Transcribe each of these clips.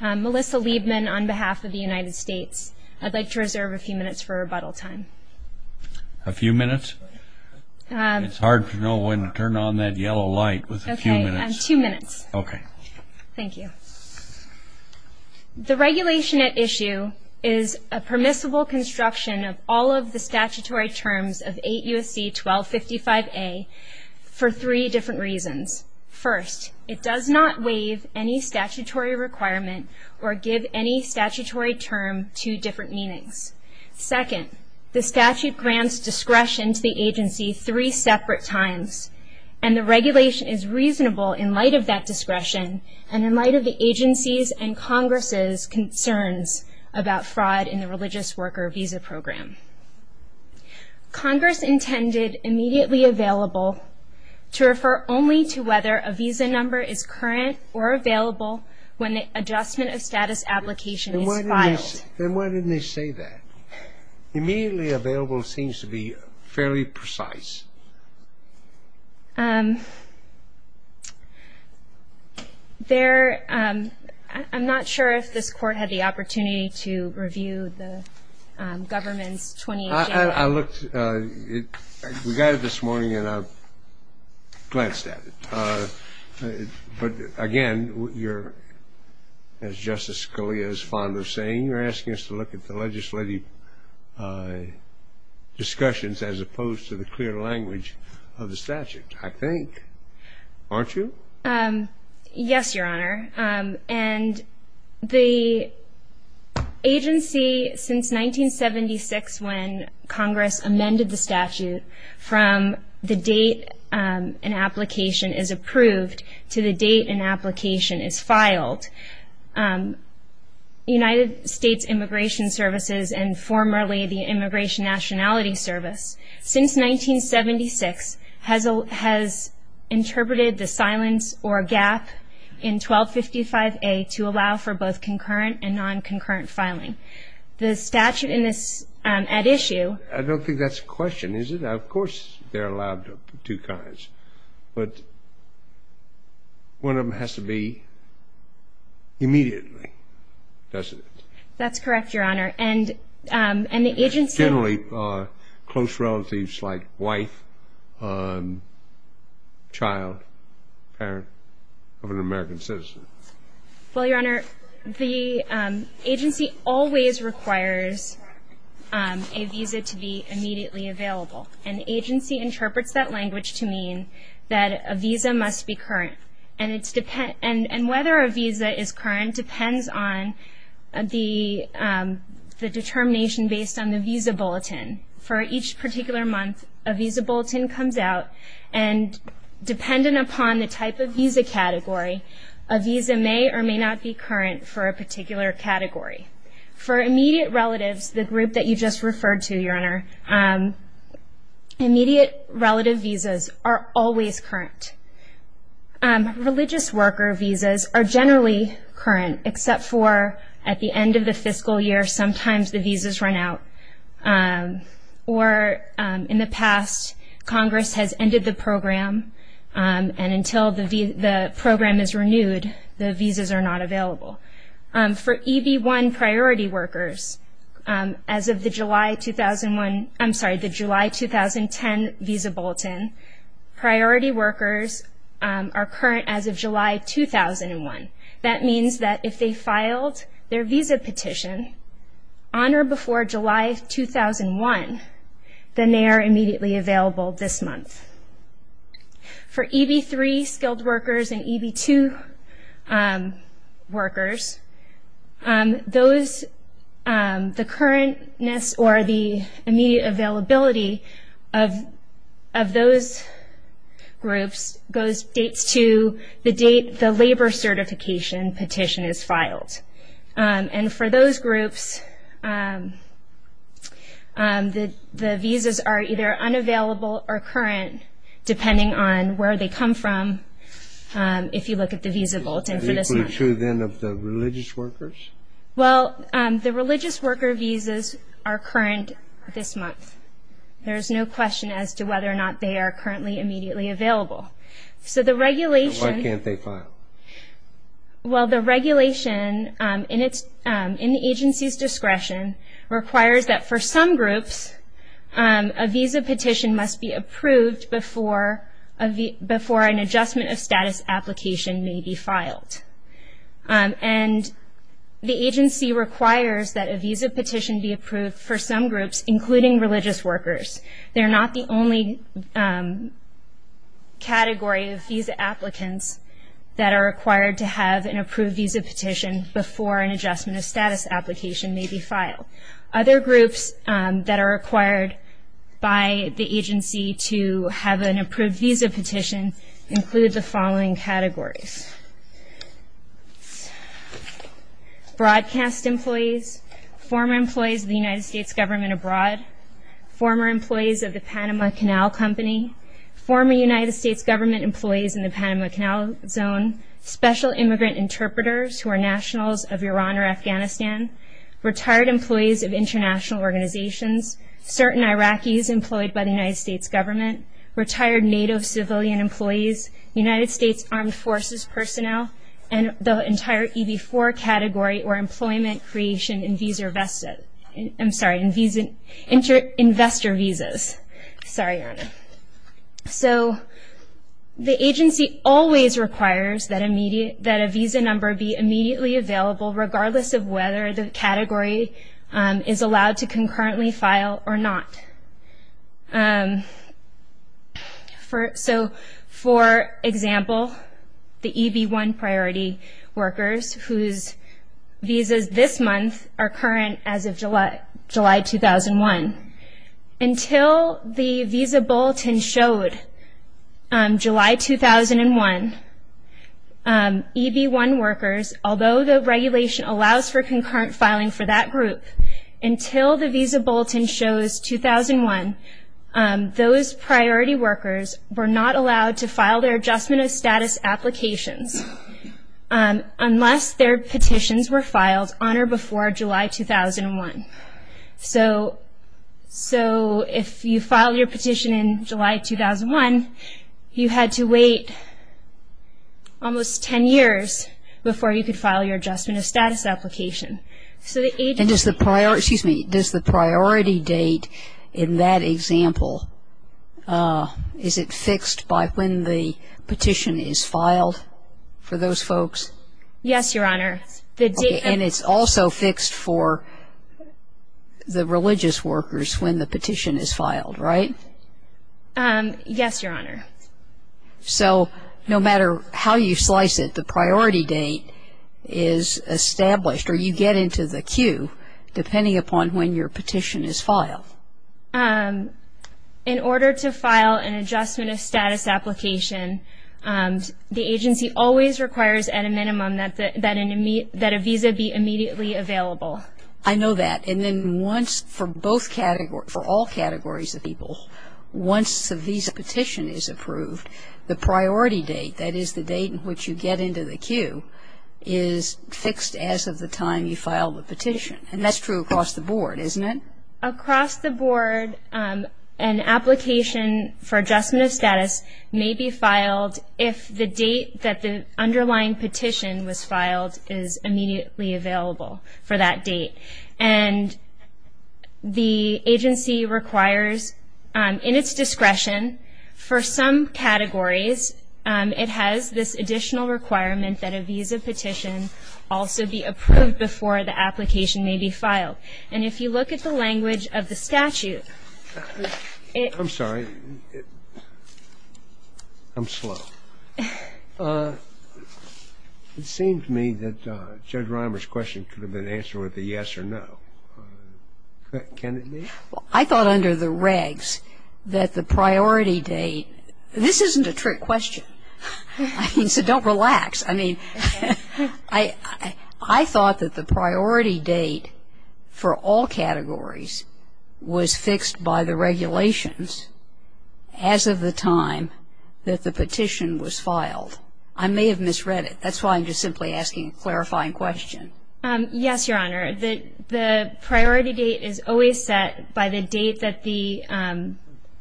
Melissa Liebman on behalf of the United States. I'd like to reserve a few minutes for rebuttal time. A few minutes? It's hard to know when to turn on that yellow light with a few minutes. Okay, two minutes. Okay. Thank you. The regulation at issue is a permissible construction of all of the statutory terms of 8 U.S.C. 1255A for three different reasons. First, it does not waive any statutory requirement or give any statutory term two different meanings. Second, the statute grants discretion to the agency three separate times and the regulation is reasonable in light of that discretion and in light of the agency's and Congress's concerns about fraud in the religious worker visa program. Congress intended immediately available to refer only to whether a visa number is current or available when the adjustment of status application is filed. Then why didn't they say that? Immediately available seems to be fairly precise. There, I'm not sure if this court had the opportunity to review the government's I looked, we got it this morning and I glanced at it. But again, you're, as Justice Scalia is fond of saying, you're asking us to look at the legislative discussions as opposed to the clear language of the statute, I think, aren't you? Yes, Your Honor. And the agency, since 1976, when Congress amended the statute from the date an application is approved to the date an application is filed, United States Immigration Services and formerly the or a gap in 1255A to allow for both concurrent and non-concurrent filing. The statute in this, at issue I don't think that's a question, is it? Of course they're allowed two kinds, but one of them has to be immediately, doesn't it? That's correct, Your Honor. And the agency generally close relatives like wife, child, parent of an American citizen. Well, Your Honor, the agency always requires a visa to be immediately available. An agency interprets that language to mean that a visa must be current. And whether a visa is current depends on the determination based on the visa bulletin. For each particular month, a visa bulletin comes out and dependent upon the type of visa category, a visa may or may not be current for a particular category. For immediate relatives, the group that you just referred to, Your Honor, immediate relative visas are always current. Religious worker visas are generally current except for at the end of the fiscal year, sometimes the visas run out. Or in the past, Congress has ended the program and until the program is renewed, the visas are not available. For EB1 priority workers, as of the July 2001, I'm sorry, the July 2010 visa bulletin, priority workers are current as of July 2001. That means that if they filed their visa petition on or before July 2001, then they are immediately available this month. For EB3 skilled workers and EB2 workers, those, the currentness or the immediate availability of those groups goes, dates to the depending on where they come from if you look at the visa bulletin for this month. Is it true then of the religious workers? Well, the religious worker visas are current this month. There is no question as to whether or not they are currently immediately available. So the regulation Why can't they file? Well, the regulation in the agency's discretion requires that for some groups, a visa petition must be approved before an adjustment of status application may be filed. And the agency requires that a visa petition be approved for some groups, including religious workers. They're not the only category of visa applicants that are required to have an approved visa petition before an adjustment of status application may be filed. Other groups that are required by the agency to have an approved visa petition include the following categories. Broadcast employees, former employees of the United States government abroad, former employees of the Panama Canal Company, former United States government employees in the Panama Canal Zone, special immigrant interpreters who are nationals of Iran or Afghanistan, retired employees of international organizations, certain Iraqis employed by the United States government, retired NATO civilian employees, United States Armed Forces personnel, and the entire EB-4 category or employment creation in visa vested, I'm sorry, in visa, investor visas. Sorry, Your Honor. So the agency always requires that immediate, that a visa number be immediately available regardless of whether the category is allowed to concurrently file or not. So for example, the EB-1 priority workers whose visas this month are current as of July 2001. Until the visa bulletin showed July 2001, EB-1 workers, although the regulation allows for concurrent filing for that group, until the visa bulletin shows 2001, those priority workers were not allowed to file their adjustment of status applications unless their petitions were filed on or before July 2001. So if you file your petition in July 2001, you had to wait almost 10 years before you could file your adjustment of status application. And does the priority date in that example, is it fixed by when the petition is filed for those folks? Yes, Your Honor. And it's also fixed for the religious workers when the petition is filed, right? Yes, Your Honor. So no matter how you slice it, the priority date is established or you get into the queue depending upon when your petition is filed. In order to file an adjustment of status application, the agency always requires at a minimum that a visa be immediately available. I know that. And then once, for both categories, for all categories of people, once the visa petition is approved, the priority date, that is the date in which you get into the queue, is fixed as of the time you filed the petition. And that's true across the board, isn't it? Across the board, an application for adjustment of status may be filed if the date that the underlying petition was filed is immediately available for that date. And the agency requires, in its discretion, for some categories, it has this additional requirement that a visa petition also be approved before the application may be filed. And if you look at the language of the statute, it ---- I'm sorry. I'm slow. It seems to me that Judge Reimer's question could have been answered with a yes or no. Can it be? I thought under the regs that the priority date ---- this isn't a trick question. I mean, so don't relax. I mean, I thought that the priority date for all categories was fixed by the regulations as of the time that the petition was filed. I may have misread it. That's why I'm just simply asking a clarifying question. Yes, Your Honor. The priority date is always set by the date that the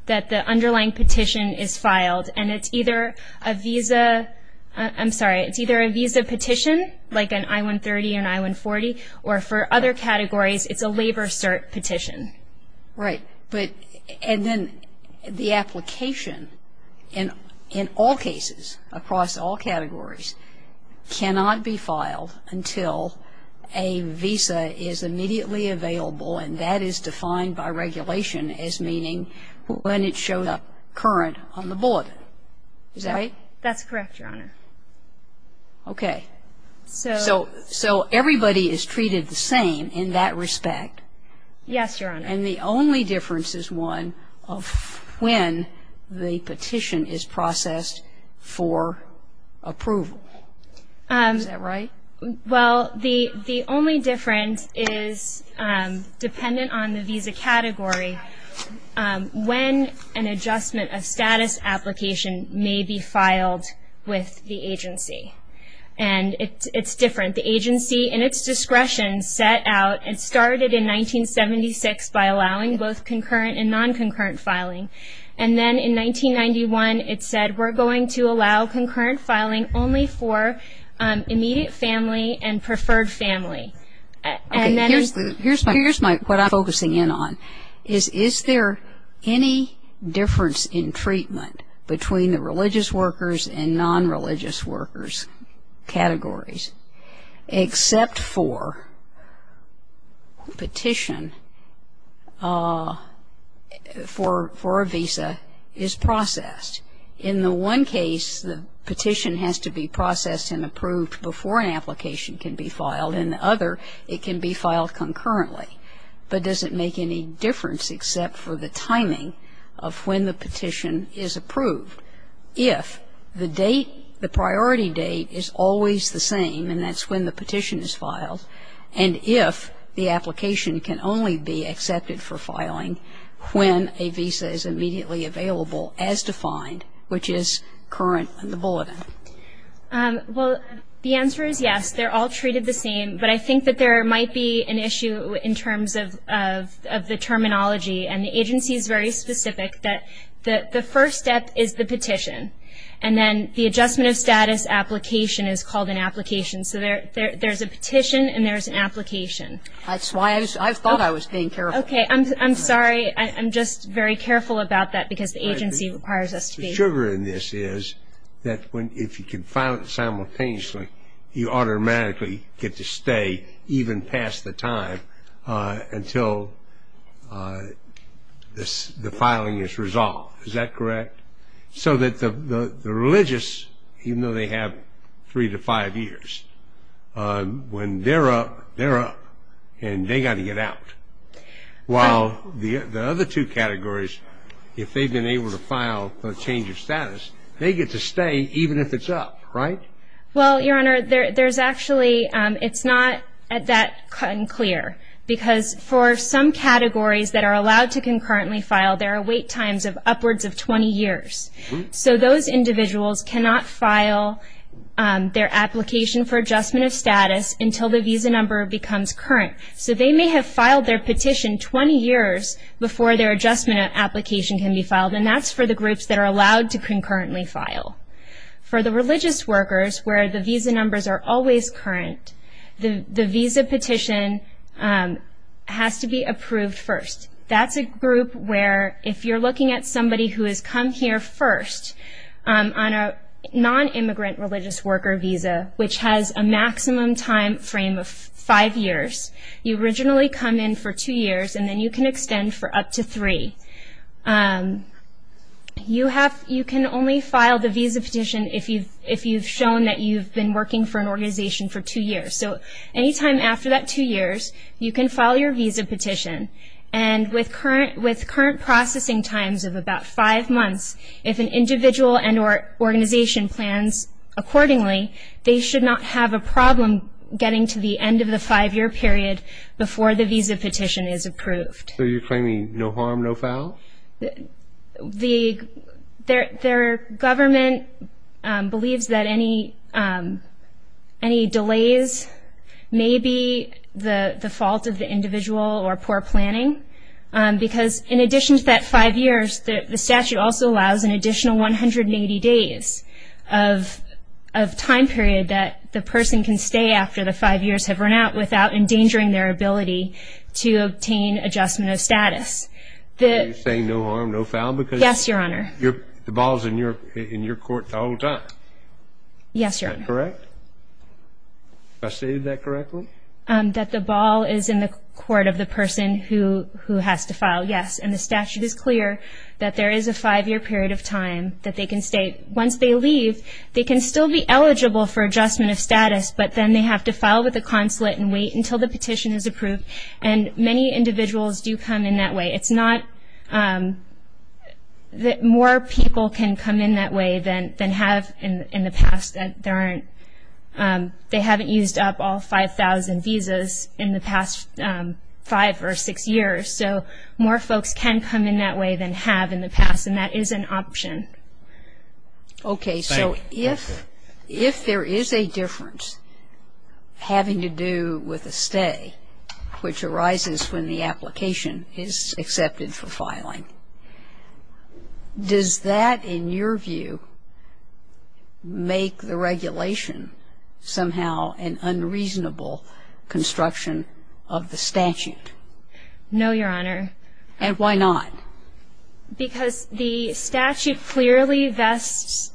underlying petition is filed. And it's either a visa ---- I'm sorry. It's either a visa petition, like an I-130 or an I-140, or for other categories, it's a labor cert petition. Right. And then the application in all cases, across all categories, cannot be filed until a visa is immediately available, and that is defined by regulation as meaning when it shows up current on the bulletin. Is that right? That's correct, Your Honor. Okay. So ---- So everybody is treated the same in that respect. Yes, Your Honor. And the only difference is one of when the petition is processed for approval. Is that right? Well, the only difference is dependent on the visa category when an adjustment of status application may be filed with the agency. And it's different. The agency, in its discretion, set out and started in 1976 by allowing both concurrent and non-concurrent filing. And then in 1991, it said, we're going to allow concurrent filing only for immediate family and preferred family. And then there's ---- Okay. Here's what I'm focusing in on, is is there any difference in treatment between the religious workers and non-religious workers categories except for petition for a visa is processed? In the one case, the petition has to be processed and approved before an application can be filed. In the other, it can be filed concurrently. But does it make any difference except for the timing of when the petition is approved if the date, the priority date, is always the same, and that's when the petition is filed, and if the application can only be accepted for filing when a visa is immediately available as defined, which is current in the bulletin? Well, the answer is yes. They're all treated the same. But I think that there might be an issue in terms of the terminology, and the agency is very specific that the first step is the petition, and then the adjustment of status application is called an application. So there's a petition and there's an application. That's why I thought I was being careful. Okay. I'm sorry. I'm just very careful about that because the agency requires us to be. The sugar in this is that if you can file it simultaneously, you automatically get to stay even past the time until the filing is resolved. Is that correct? So that the religious, even though they have three to five years, when they're up, they're up, and they've got to get out, while the other two categories, if they've been able to file for a change of status, they get to stay even if it's up, right? Well, Your Honor, there's actually, it's not that clear because for some categories that are allowed to concurrently file, there are wait times of upwards of 20 years. So those individuals cannot file their application for adjustment of status until the visa number becomes current. So they may have filed their petition 20 years before their adjustment application can be filed, For the religious workers where the visa numbers are always current, the visa petition has to be approved first. That's a group where if you're looking at somebody who has come here first on a non-immigrant religious worker visa, which has a maximum time frame of five years, you originally come in for two years, and then you can extend for up to three. You can only file the visa petition if you've shown that you've been working for an organization for two years. So any time after that two years, you can file your visa petition, and with current processing times of about five months, if an individual and organization plans accordingly, they should not have a problem getting to the end of the five-year period before the visa petition is approved. So you're claiming no harm, no foul? The government believes that any delays may be the fault of the individual or poor planning, because in addition to that five years, the statute also allows an additional 180 days of time period that the person can stay after the five years have run out without endangering their ability to obtain adjustment of status. Are you saying no harm, no foul? Yes, Your Honor. The ball is in your court the whole time? Yes, Your Honor. Is that correct? Have I stated that correctly? That the ball is in the court of the person who has to file, yes. And the statute is clear that there is a five-year period of time that they can stay. Once they leave, they can still be eligible for adjustment of status, but then they have to file with the consulate and wait until the petition is approved, and many individuals do come in that way. It's not that more people can come in that way than have in the past. They haven't used up all 5,000 visas in the past five or six years, so more folks can come in that way than have in the past, and that is an option. Okay. So if there is a difference having to do with a stay, which arises when the application is accepted for filing, does that in your view make the regulation somehow an unreasonable construction of the statute? No, Your Honor. And why not? Because the statute clearly vests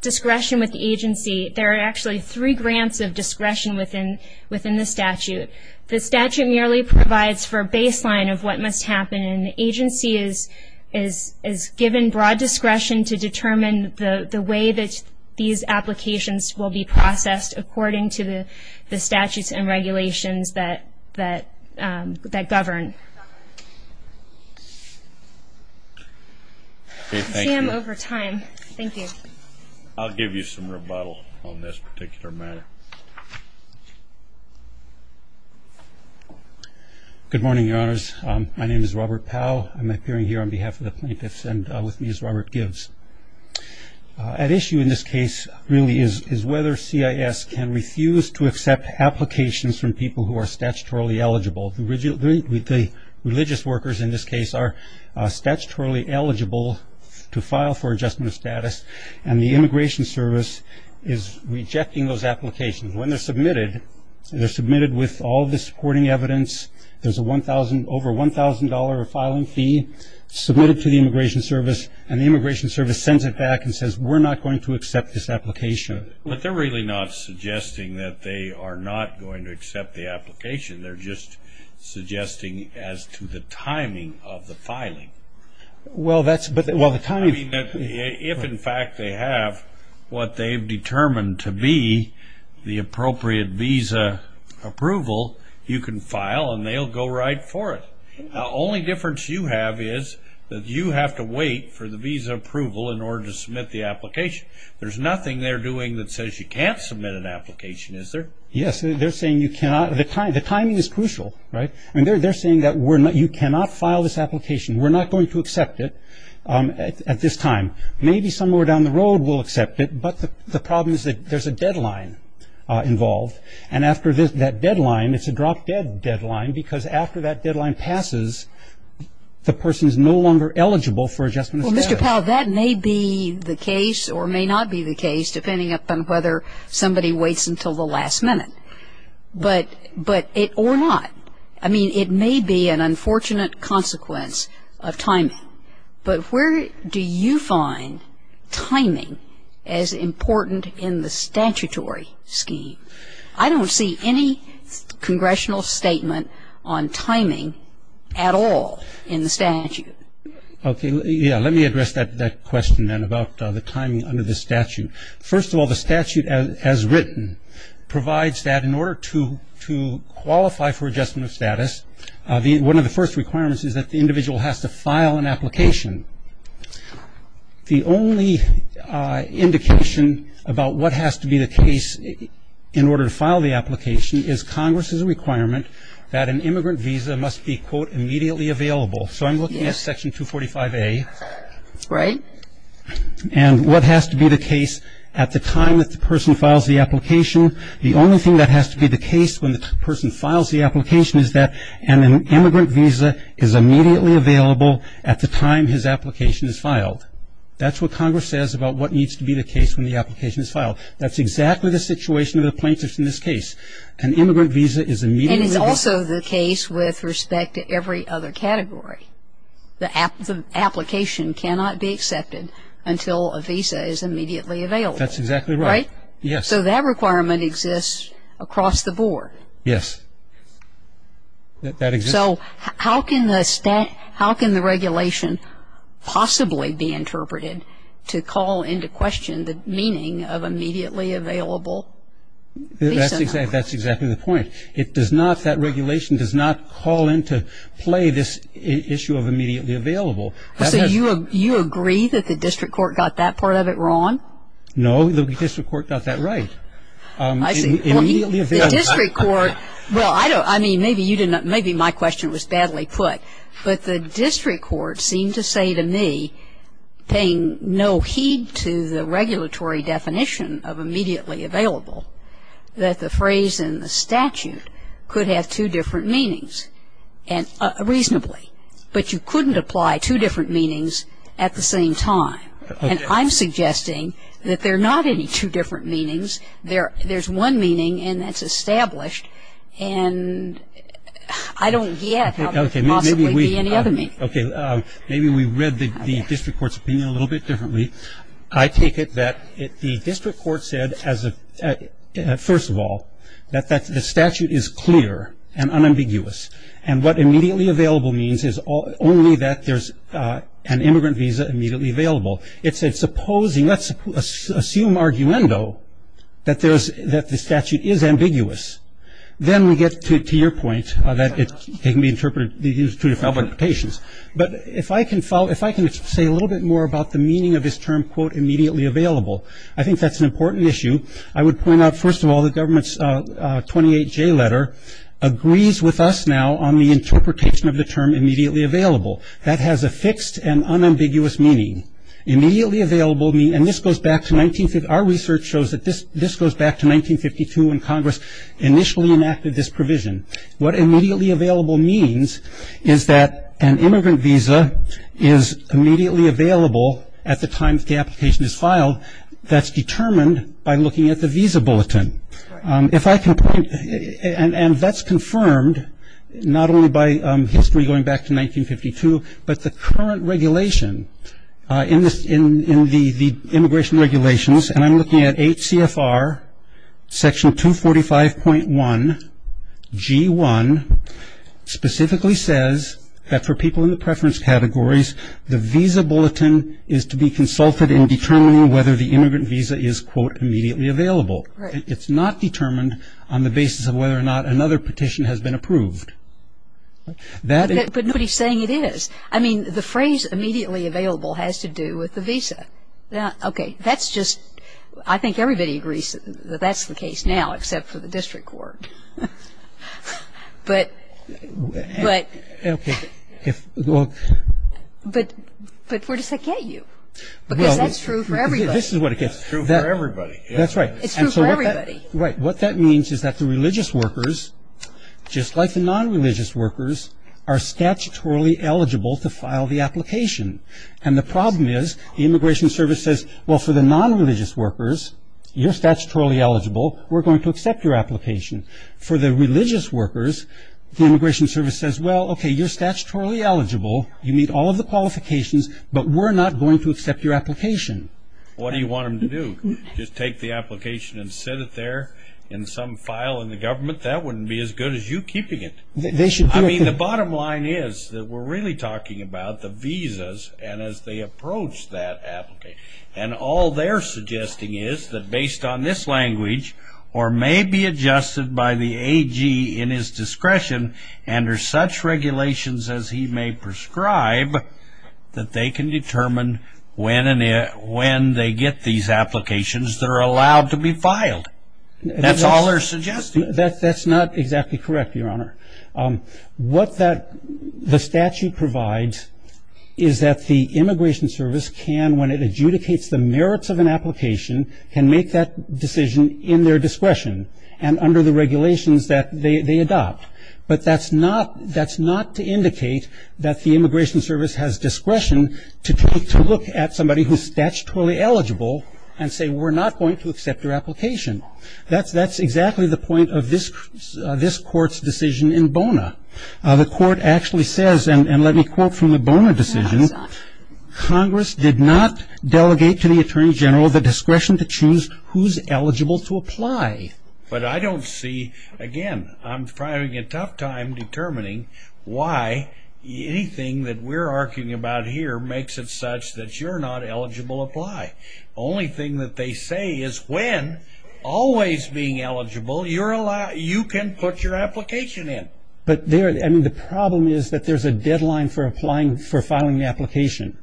discretion with the agency. There are actually three grants of discretion within the statute. The statute merely provides for a baseline of what must happen, and the agency is given broad discretion to determine the way that these applications will be processed according to the statutes and regulations that govern. Sam, over time. Thank you. I'll give you some rebuttal on this particular matter. Good morning, Your Honors. My name is Robert Powell. I'm appearing here on behalf of the plaintiffs, and with me is Robert Gibbs. At issue in this case really is whether CIS can refuse to accept applications from people who are statutorily eligible. The religious workers in this case are statutorily eligible to file for adjustment of status, and the Immigration Service is rejecting those applications. When they're submitted, they're submitted with all of the supporting evidence. There's over $1,000 of filing fee submitted to the Immigration Service, and the Immigration Service sends it back and says, we're not going to accept this application. But they're really not suggesting that they are not going to accept the application. They're just suggesting as to the timing of the filing. Well, that's the timing. If, in fact, they have what they've determined to be the appropriate visa approval, you can file and they'll go right for it. The only difference you have is that you have to wait for the visa approval in order to submit the application. There's nothing they're doing that says you can't submit an application, is there? Yes. They're saying you cannot. The timing is crucial, right? They're saying that you cannot file this application, we're not going to accept it at this time. Maybe somewhere down the road we'll accept it, but the problem is that there's a deadline involved, and after that deadline, it's a drop-dead deadline, because after that deadline passes, the person is no longer eligible for adjustment of status. Well, Mr. Powell, that may be the case or may not be the case, depending upon whether somebody waits until the last minute, or not. I mean, it may be an unfortunate consequence of timing. But where do you find timing as important in the statutory scheme? I don't see any congressional statement on timing at all in the statute. Okay. Yeah, let me address that question then about the timing under the statute. First of all, the statute as written provides that in order to qualify for adjustment of status, one of the first requirements is that the individual has to file an application. The only indication about what has to be the case in order to file the application is Congress's requirement that an immigrant visa must be, quote, immediately available. So I'm looking at Section 245A. Right. And what has to be the case at the time that the person files the application. The only thing that has to be the case when the person files the application is that an immigrant visa is immediately available at the time his application is filed. That's what Congress says about what needs to be the case when the application is filed. That's exactly the situation of the plaintiffs in this case. An immigrant visa is immediately available. And it's also the case with respect to every other category. The application cannot be accepted until a visa is immediately available. That's exactly right. Right? Yes. So that requirement exists across the board. Yes. That exists. So how can the regulation possibly be interpreted to call into question the meaning of immediately available visa? That's exactly the point. It does not, that regulation does not call into play this issue of immediately available. So you agree that the district court got that part of it wrong? No, the district court got that right. I see. Immediately available. The district court, well, I don't, I mean, maybe you didn't, maybe my question was badly put, but the district court seemed to say to me, paying no heed to the regulatory definition of immediately available, that the phrase in the statute could have two different meanings reasonably. But you couldn't apply two different meanings at the same time. And I'm suggesting that there are not any two different meanings. There's one meaning, and that's established. And I don't get how there could possibly be any other meaning. Okay. Maybe we read the district court's opinion a little bit differently. I take it that the district court said, first of all, that the statute is clear and unambiguous. And what immediately available means is only that there's an immigrant visa immediately available. It said, supposing, let's assume arguendo, that there's, that the statute is ambiguous. Then we get to your point, that it can be interpreted, used two different applications. But if I can follow, if I can say a little bit more about the meaning of this term, quote, immediately available, I think that's an important issue. I would point out, first of all, the government's 28J letter agrees with us now on the interpretation of the term immediately available. That has a fixed and unambiguous meaning. Immediately available means, and this goes back to 1950, our research shows that this goes back to 1952 when Congress initially enacted this provision. What immediately available means is that an immigrant visa is immediately available at the time that the application is filed. That's determined by looking at the visa bulletin. If I can point, and that's confirmed not only by history going back to 1952, but the current regulation in the immigration regulations, and I'm looking at 8 CFR, section 245.1, G1, specifically says that for people in the preference categories, the visa bulletin is to be consulted in determining whether the immigrant visa is, quote, immediately available. It's not determined on the basis of whether or not another petition has been approved. That is. But nobody's saying it is. I mean, the phrase immediately available has to do with the visa. Okay. That's just, I think everybody agrees that that's the case now, except for the district court. But where does that get you? Because that's true for everybody. It's true for everybody. That's right. It's true for everybody. Right. What that means is that the religious workers, just like the nonreligious workers, are statutorily eligible to file the application. And the problem is the Immigration Service says, well, for the nonreligious workers, you're statutorily eligible. We're going to accept your application. For the religious workers, the Immigration Service says, well, okay, you're statutorily eligible. You meet all of the qualifications, but we're not going to accept your application. What do you want them to do? Just take the application and sit it there in some file in the government? That wouldn't be as good as you keeping it. I mean, the bottom line is that we're really talking about the visas and as they approach that application. And all they're suggesting is that based on this language, or may be adjusted by the AG in his discretion under such regulations as he may prescribe, that they can determine when they get these applications that are allowed to be filed. That's all they're suggesting. That's not exactly correct, Your Honor. What the statute provides is that the Immigration Service can, when it adjudicates the merits of an application, can make that decision in their discretion and under the regulations that they adopt. But that's not to indicate that the Immigration Service has discretion to look at somebody who's statutorily eligible and say, well, we're not going to accept your application. That's exactly the point of this court's decision in Bona. The court actually says, and let me quote from the Bona decision, Congress did not delegate to the Attorney General the discretion to choose who's eligible to apply. But I don't see, again, I'm having a tough time determining why anything that we're arguing about here makes it such that you're not eligible to apply. The only thing that they say is when, always being eligible, you can put your application in. But the problem is that there's a deadline for filing the application,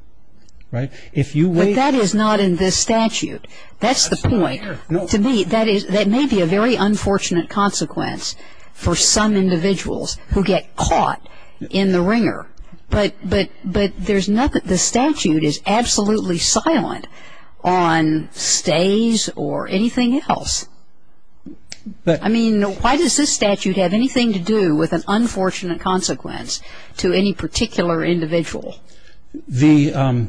right? But that is not in this statute. That's the point. To me, that may be a very unfortunate consequence for some individuals who get caught in the ringer. But there's nothing, the statute is absolutely silent on stays or anything else. I mean, why does this statute have anything to do with an unfortunate consequence to any particular individual? The,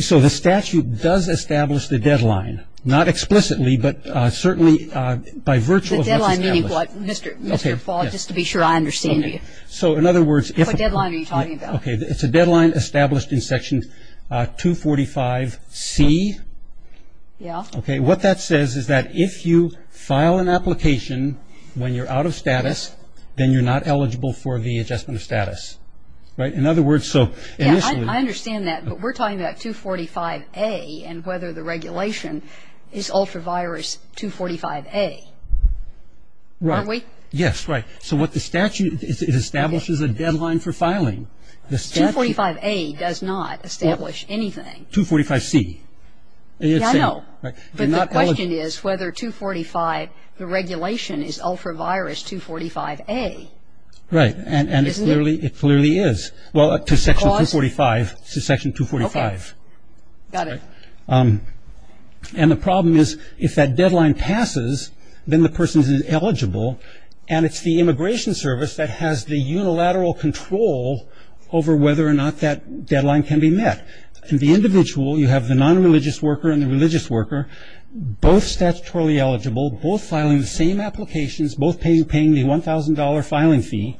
so the statute does establish the deadline, not explicitly, but certainly by virtue of what's established. The deadline meaning what, Mr. Fall, just to be sure I understand you. So, in other words, if What deadline are you talking about? Okay. It's a deadline established in Section 245C. Yeah. Okay. What that says is that if you file an application when you're out of status, then you're not eligible for the adjustment of status. Right? In other words, so initially Yeah, I understand that. But we're talking about 245A and whether the regulation is ultra-virus 245A. Right. Aren't we? Yes, right. So what the statute, it establishes a deadline for filing. 245A does not establish anything. 245C. Yeah, I know. But the question is whether 245, the regulation is ultra-virus 245A. Right. Isn't it? It clearly is. Well, to Section 245, to Section 245. Okay. Got it. And the problem is if that deadline passes, then the person is eligible, and it's the Immigration Service that has the unilateral control over whether or not that deadline can be met. And the individual, you have the non-religious worker and the religious worker, both statutorily eligible, both filing the same applications, both paying the $1,000 filing fee,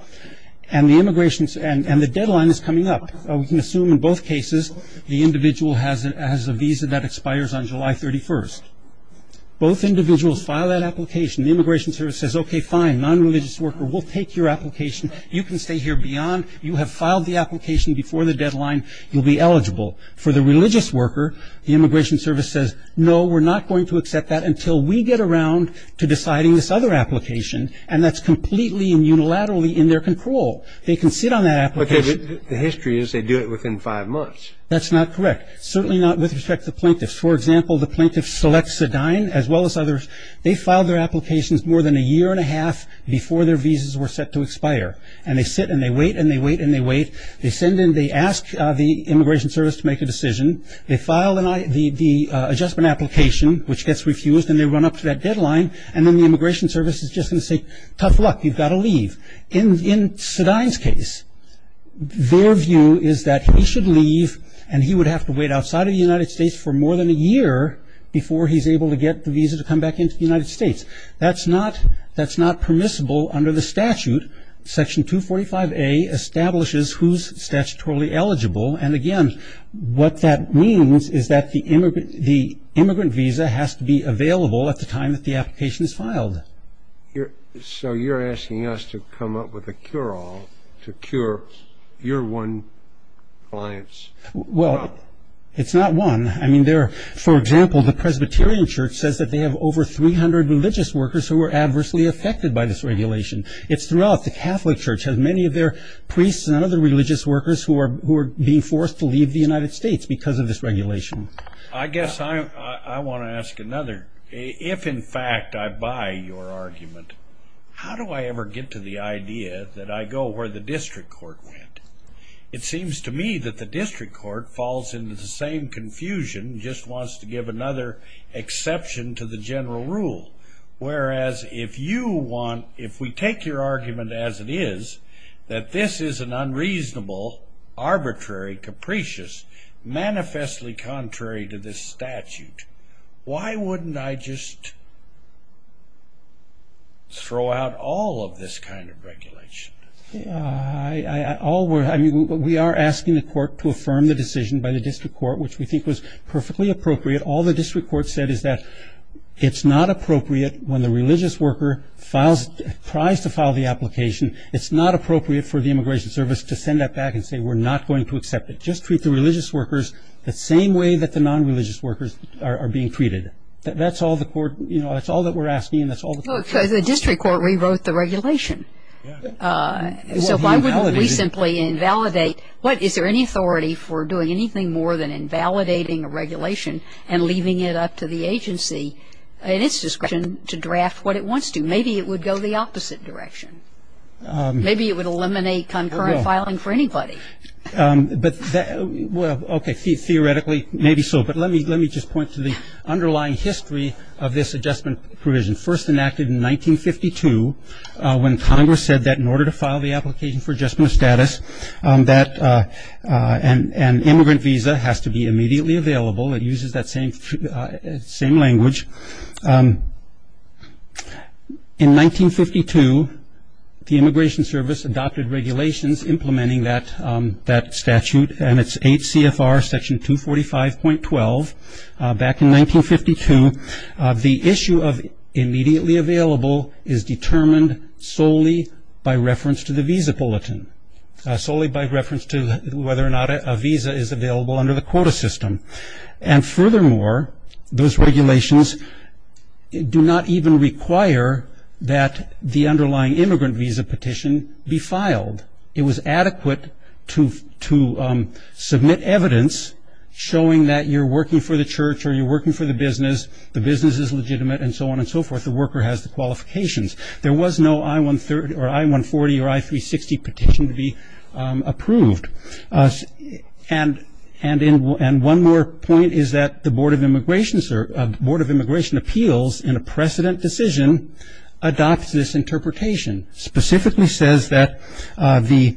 and the deadline is coming up. We can assume in both cases the individual has a visa that expires on July 31st. Both individuals file that application. The Immigration Service says, okay, fine, non-religious worker, we'll take your application. You can stay here beyond. You have filed the application before the deadline. You'll be eligible. For the religious worker, the Immigration Service says, no, we're not going to accept that until we get around to deciding this other application, and that's completely and unilaterally in their control. They can sit on that application. But the history is they do it within five months. That's not correct. Certainly not with respect to the plaintiffs. For example, the plaintiffs select Sedine as well as others. They file their applications more than a year and a half before their visas were set to expire, and they sit and they wait and they wait and they wait. They send in, they ask the Immigration Service to make a decision. They file the adjustment application, which gets refused, and they run up to that deadline, and then the Immigration Service is just going to say, tough luck, you've got to leave. In Sedine's case, their view is that he should leave and he would have to wait outside of the United States for more than a year before he's able to get the visa to come back into the United States. That's not permissible under the statute. Section 245A establishes who's statutorily eligible, and, again, what that means is that the immigrant visa has to be available at the time that the application is filed. So you're asking us to come up with a cure-all to cure your one client's problem? Well, it's not one. I mean, for example, the Presbyterian Church says that they have over 300 religious workers who are adversely affected by this regulation. It's throughout. The Catholic Church has many of their priests and other religious workers who are being forced to leave the United States because of this regulation. I guess I want to ask another. If, in fact, I buy your argument, how do I ever get to the idea that I go where the district court went? It seems to me that the district court falls into the same confusion and just wants to give another exception to the general rule, whereas if we take your argument as it is, that this is an unreasonable, arbitrary, capricious, manifestly contrary to this statute, why wouldn't I just throw out all of this kind of regulation? I mean, we are asking the court to affirm the decision by the district court, which we think was perfectly appropriate. All the district court said is that it's not appropriate when the religious worker tries to file the application. It's not appropriate for the Immigration Service to send that back and say, we're not going to accept it. Just treat the religious workers the same way that the non-religious workers are being treated. That's all the court, you know, that's all that we're asking and that's all the court said. The district court rewrote the regulation. So why wouldn't we simply invalidate? Is there any authority for doing anything more than invalidating a regulation and leaving it up to the agency in its discretion to draft what it wants to? Maybe it would go the opposite direction. Maybe it would eliminate concurrent filing for anybody. But, okay, theoretically, maybe so. But let me just point to the underlying history of this adjustment provision. First enacted in 1952 when Congress said that in order to file the application for adjustment of status, that an immigrant visa has to be immediately available. It uses that same language. In 1952, the Immigration Service adopted regulations implementing that statute, and it's 8 CFR section 245.12. Back in 1952, the issue of immediately available is determined solely by reference to the visa bulletin, solely by reference to whether or not a visa is available under the quota system. And furthermore, those regulations do not even require that the underlying immigrant visa petition be filed. It was adequate to submit evidence showing that you're working for the church or you're working for the business, the business is legitimate, and so on and so forth, the worker has the qualifications. There was no I-140 or I-360 petition to be approved. And one more point is that the Board of Immigration Appeals, in a precedent decision, adopts this interpretation, specifically says that the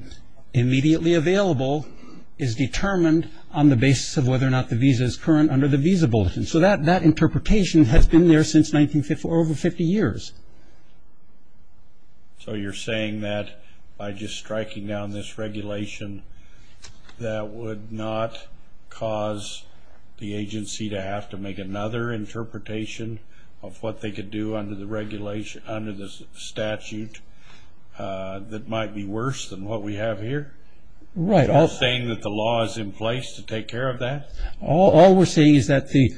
immediately available is determined on the basis of whether or not the visa is current under the visa bulletin. So that interpretation has been there since over 50 years. So you're saying that by just striking down this regulation, that would not cause the agency to have to make another interpretation of what they could do under the regulation, under the statute that might be worse than what we have here? Right. Are you saying that the law is in place to take care of that? All we're saying is that the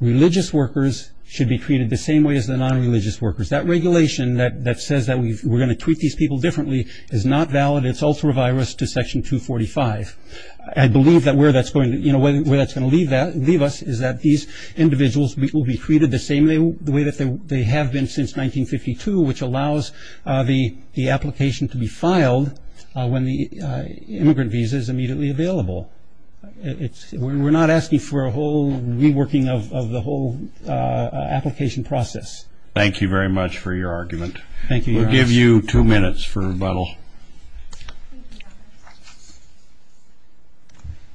religious workers should be treated the same way as the non-religious workers. That regulation that says that we're going to treat these people differently is not valid. It's ultra-virus to Section 245. I believe that where that's going to leave us is that these individuals will be treated the same way that they have been since 1952, which allows the application to be filed when the immigrant visa is immediately available. We're not asking for a whole reworking of the whole application process. Thank you very much for your argument. Thank you, Your Honor. We'll give you two minutes for rebuttal.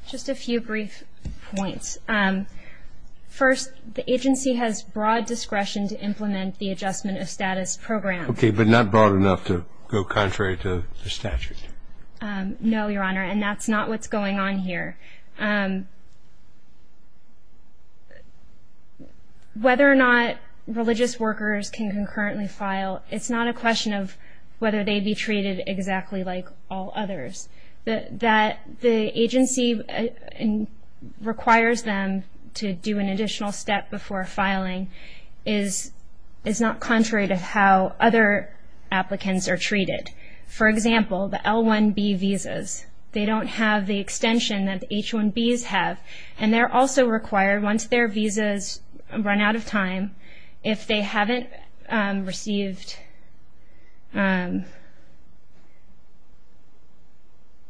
Just a few brief points. First, the agency has broad discretion to implement the adjustment of status program. Okay, but not broad enough to go contrary to the statute. No, Your Honor, and that's not what's going on here. Whether or not religious workers can concurrently file, it's not a question of whether they be treated exactly like all others. The agency requires them to do an additional step before filing is not contrary to how other applicants are treated. For example, the L-1B visas, they don't have the extension that the H-1Bs have, and they're also required once their visas run out of time, if they haven't received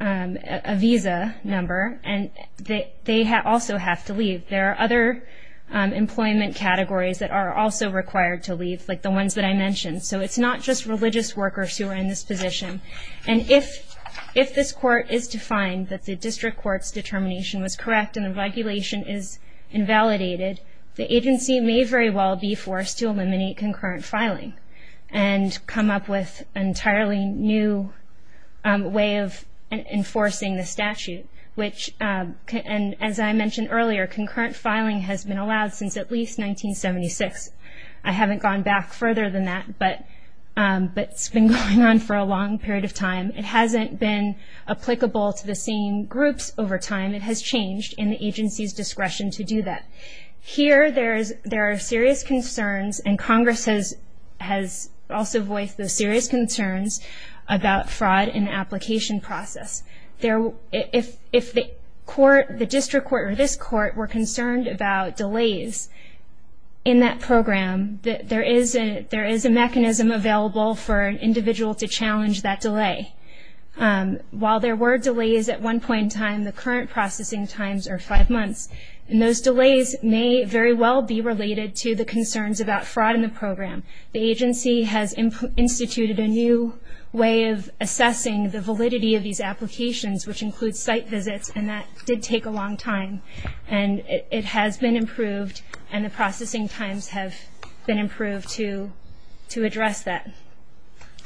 a visa number, and they also have to leave. There are other employment categories that are also required to leave, like the ones that I mentioned. So it's not just religious workers who are in this position. And if this court is to find that the district court's determination was correct and the regulation is invalidated, the agency may very well be forced to eliminate concurrent filing and come up with an entirely new way of enforcing the statute, which, as I mentioned earlier, concurrent filing has been allowed since at least 1976. I haven't gone back further than that, but it's been going on for a long period of time. It hasn't been applicable to the same groups over time. It has changed in the agency's discretion to do that. Here there are serious concerns, and Congress has also voiced those serious concerns, about fraud in the application process. If the district court or this court were concerned about delays in that program, there is a mechanism available for an individual to challenge that delay. While there were delays at one point in time, the current processing times are five months, and those delays may very well be related to the concerns about fraud in the program. The agency has instituted a new way of assessing the validity of these applications, which includes site visits, and that did take a long time. And it has been improved, and the processing times have been improved to address that.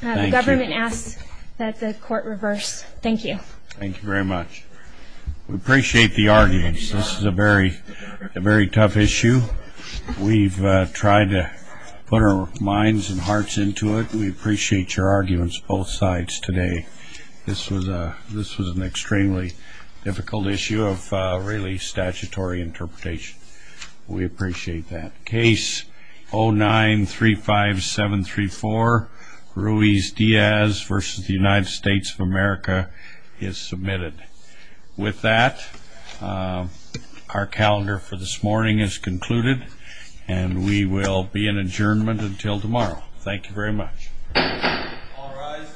The government asks that the court reverse. Thank you. Thank you very much. We appreciate the arguments. This is a very tough issue. We've tried to put our minds and hearts into it. We appreciate your arguments both sides today. This was an extremely difficult issue of really statutory interpretation. We appreciate that. Case 09-35734, Ruiz-Diaz v. United States of America is submitted. With that, our calendar for this morning is concluded, and we will be in adjournment until tomorrow. Thank you very much. All rise.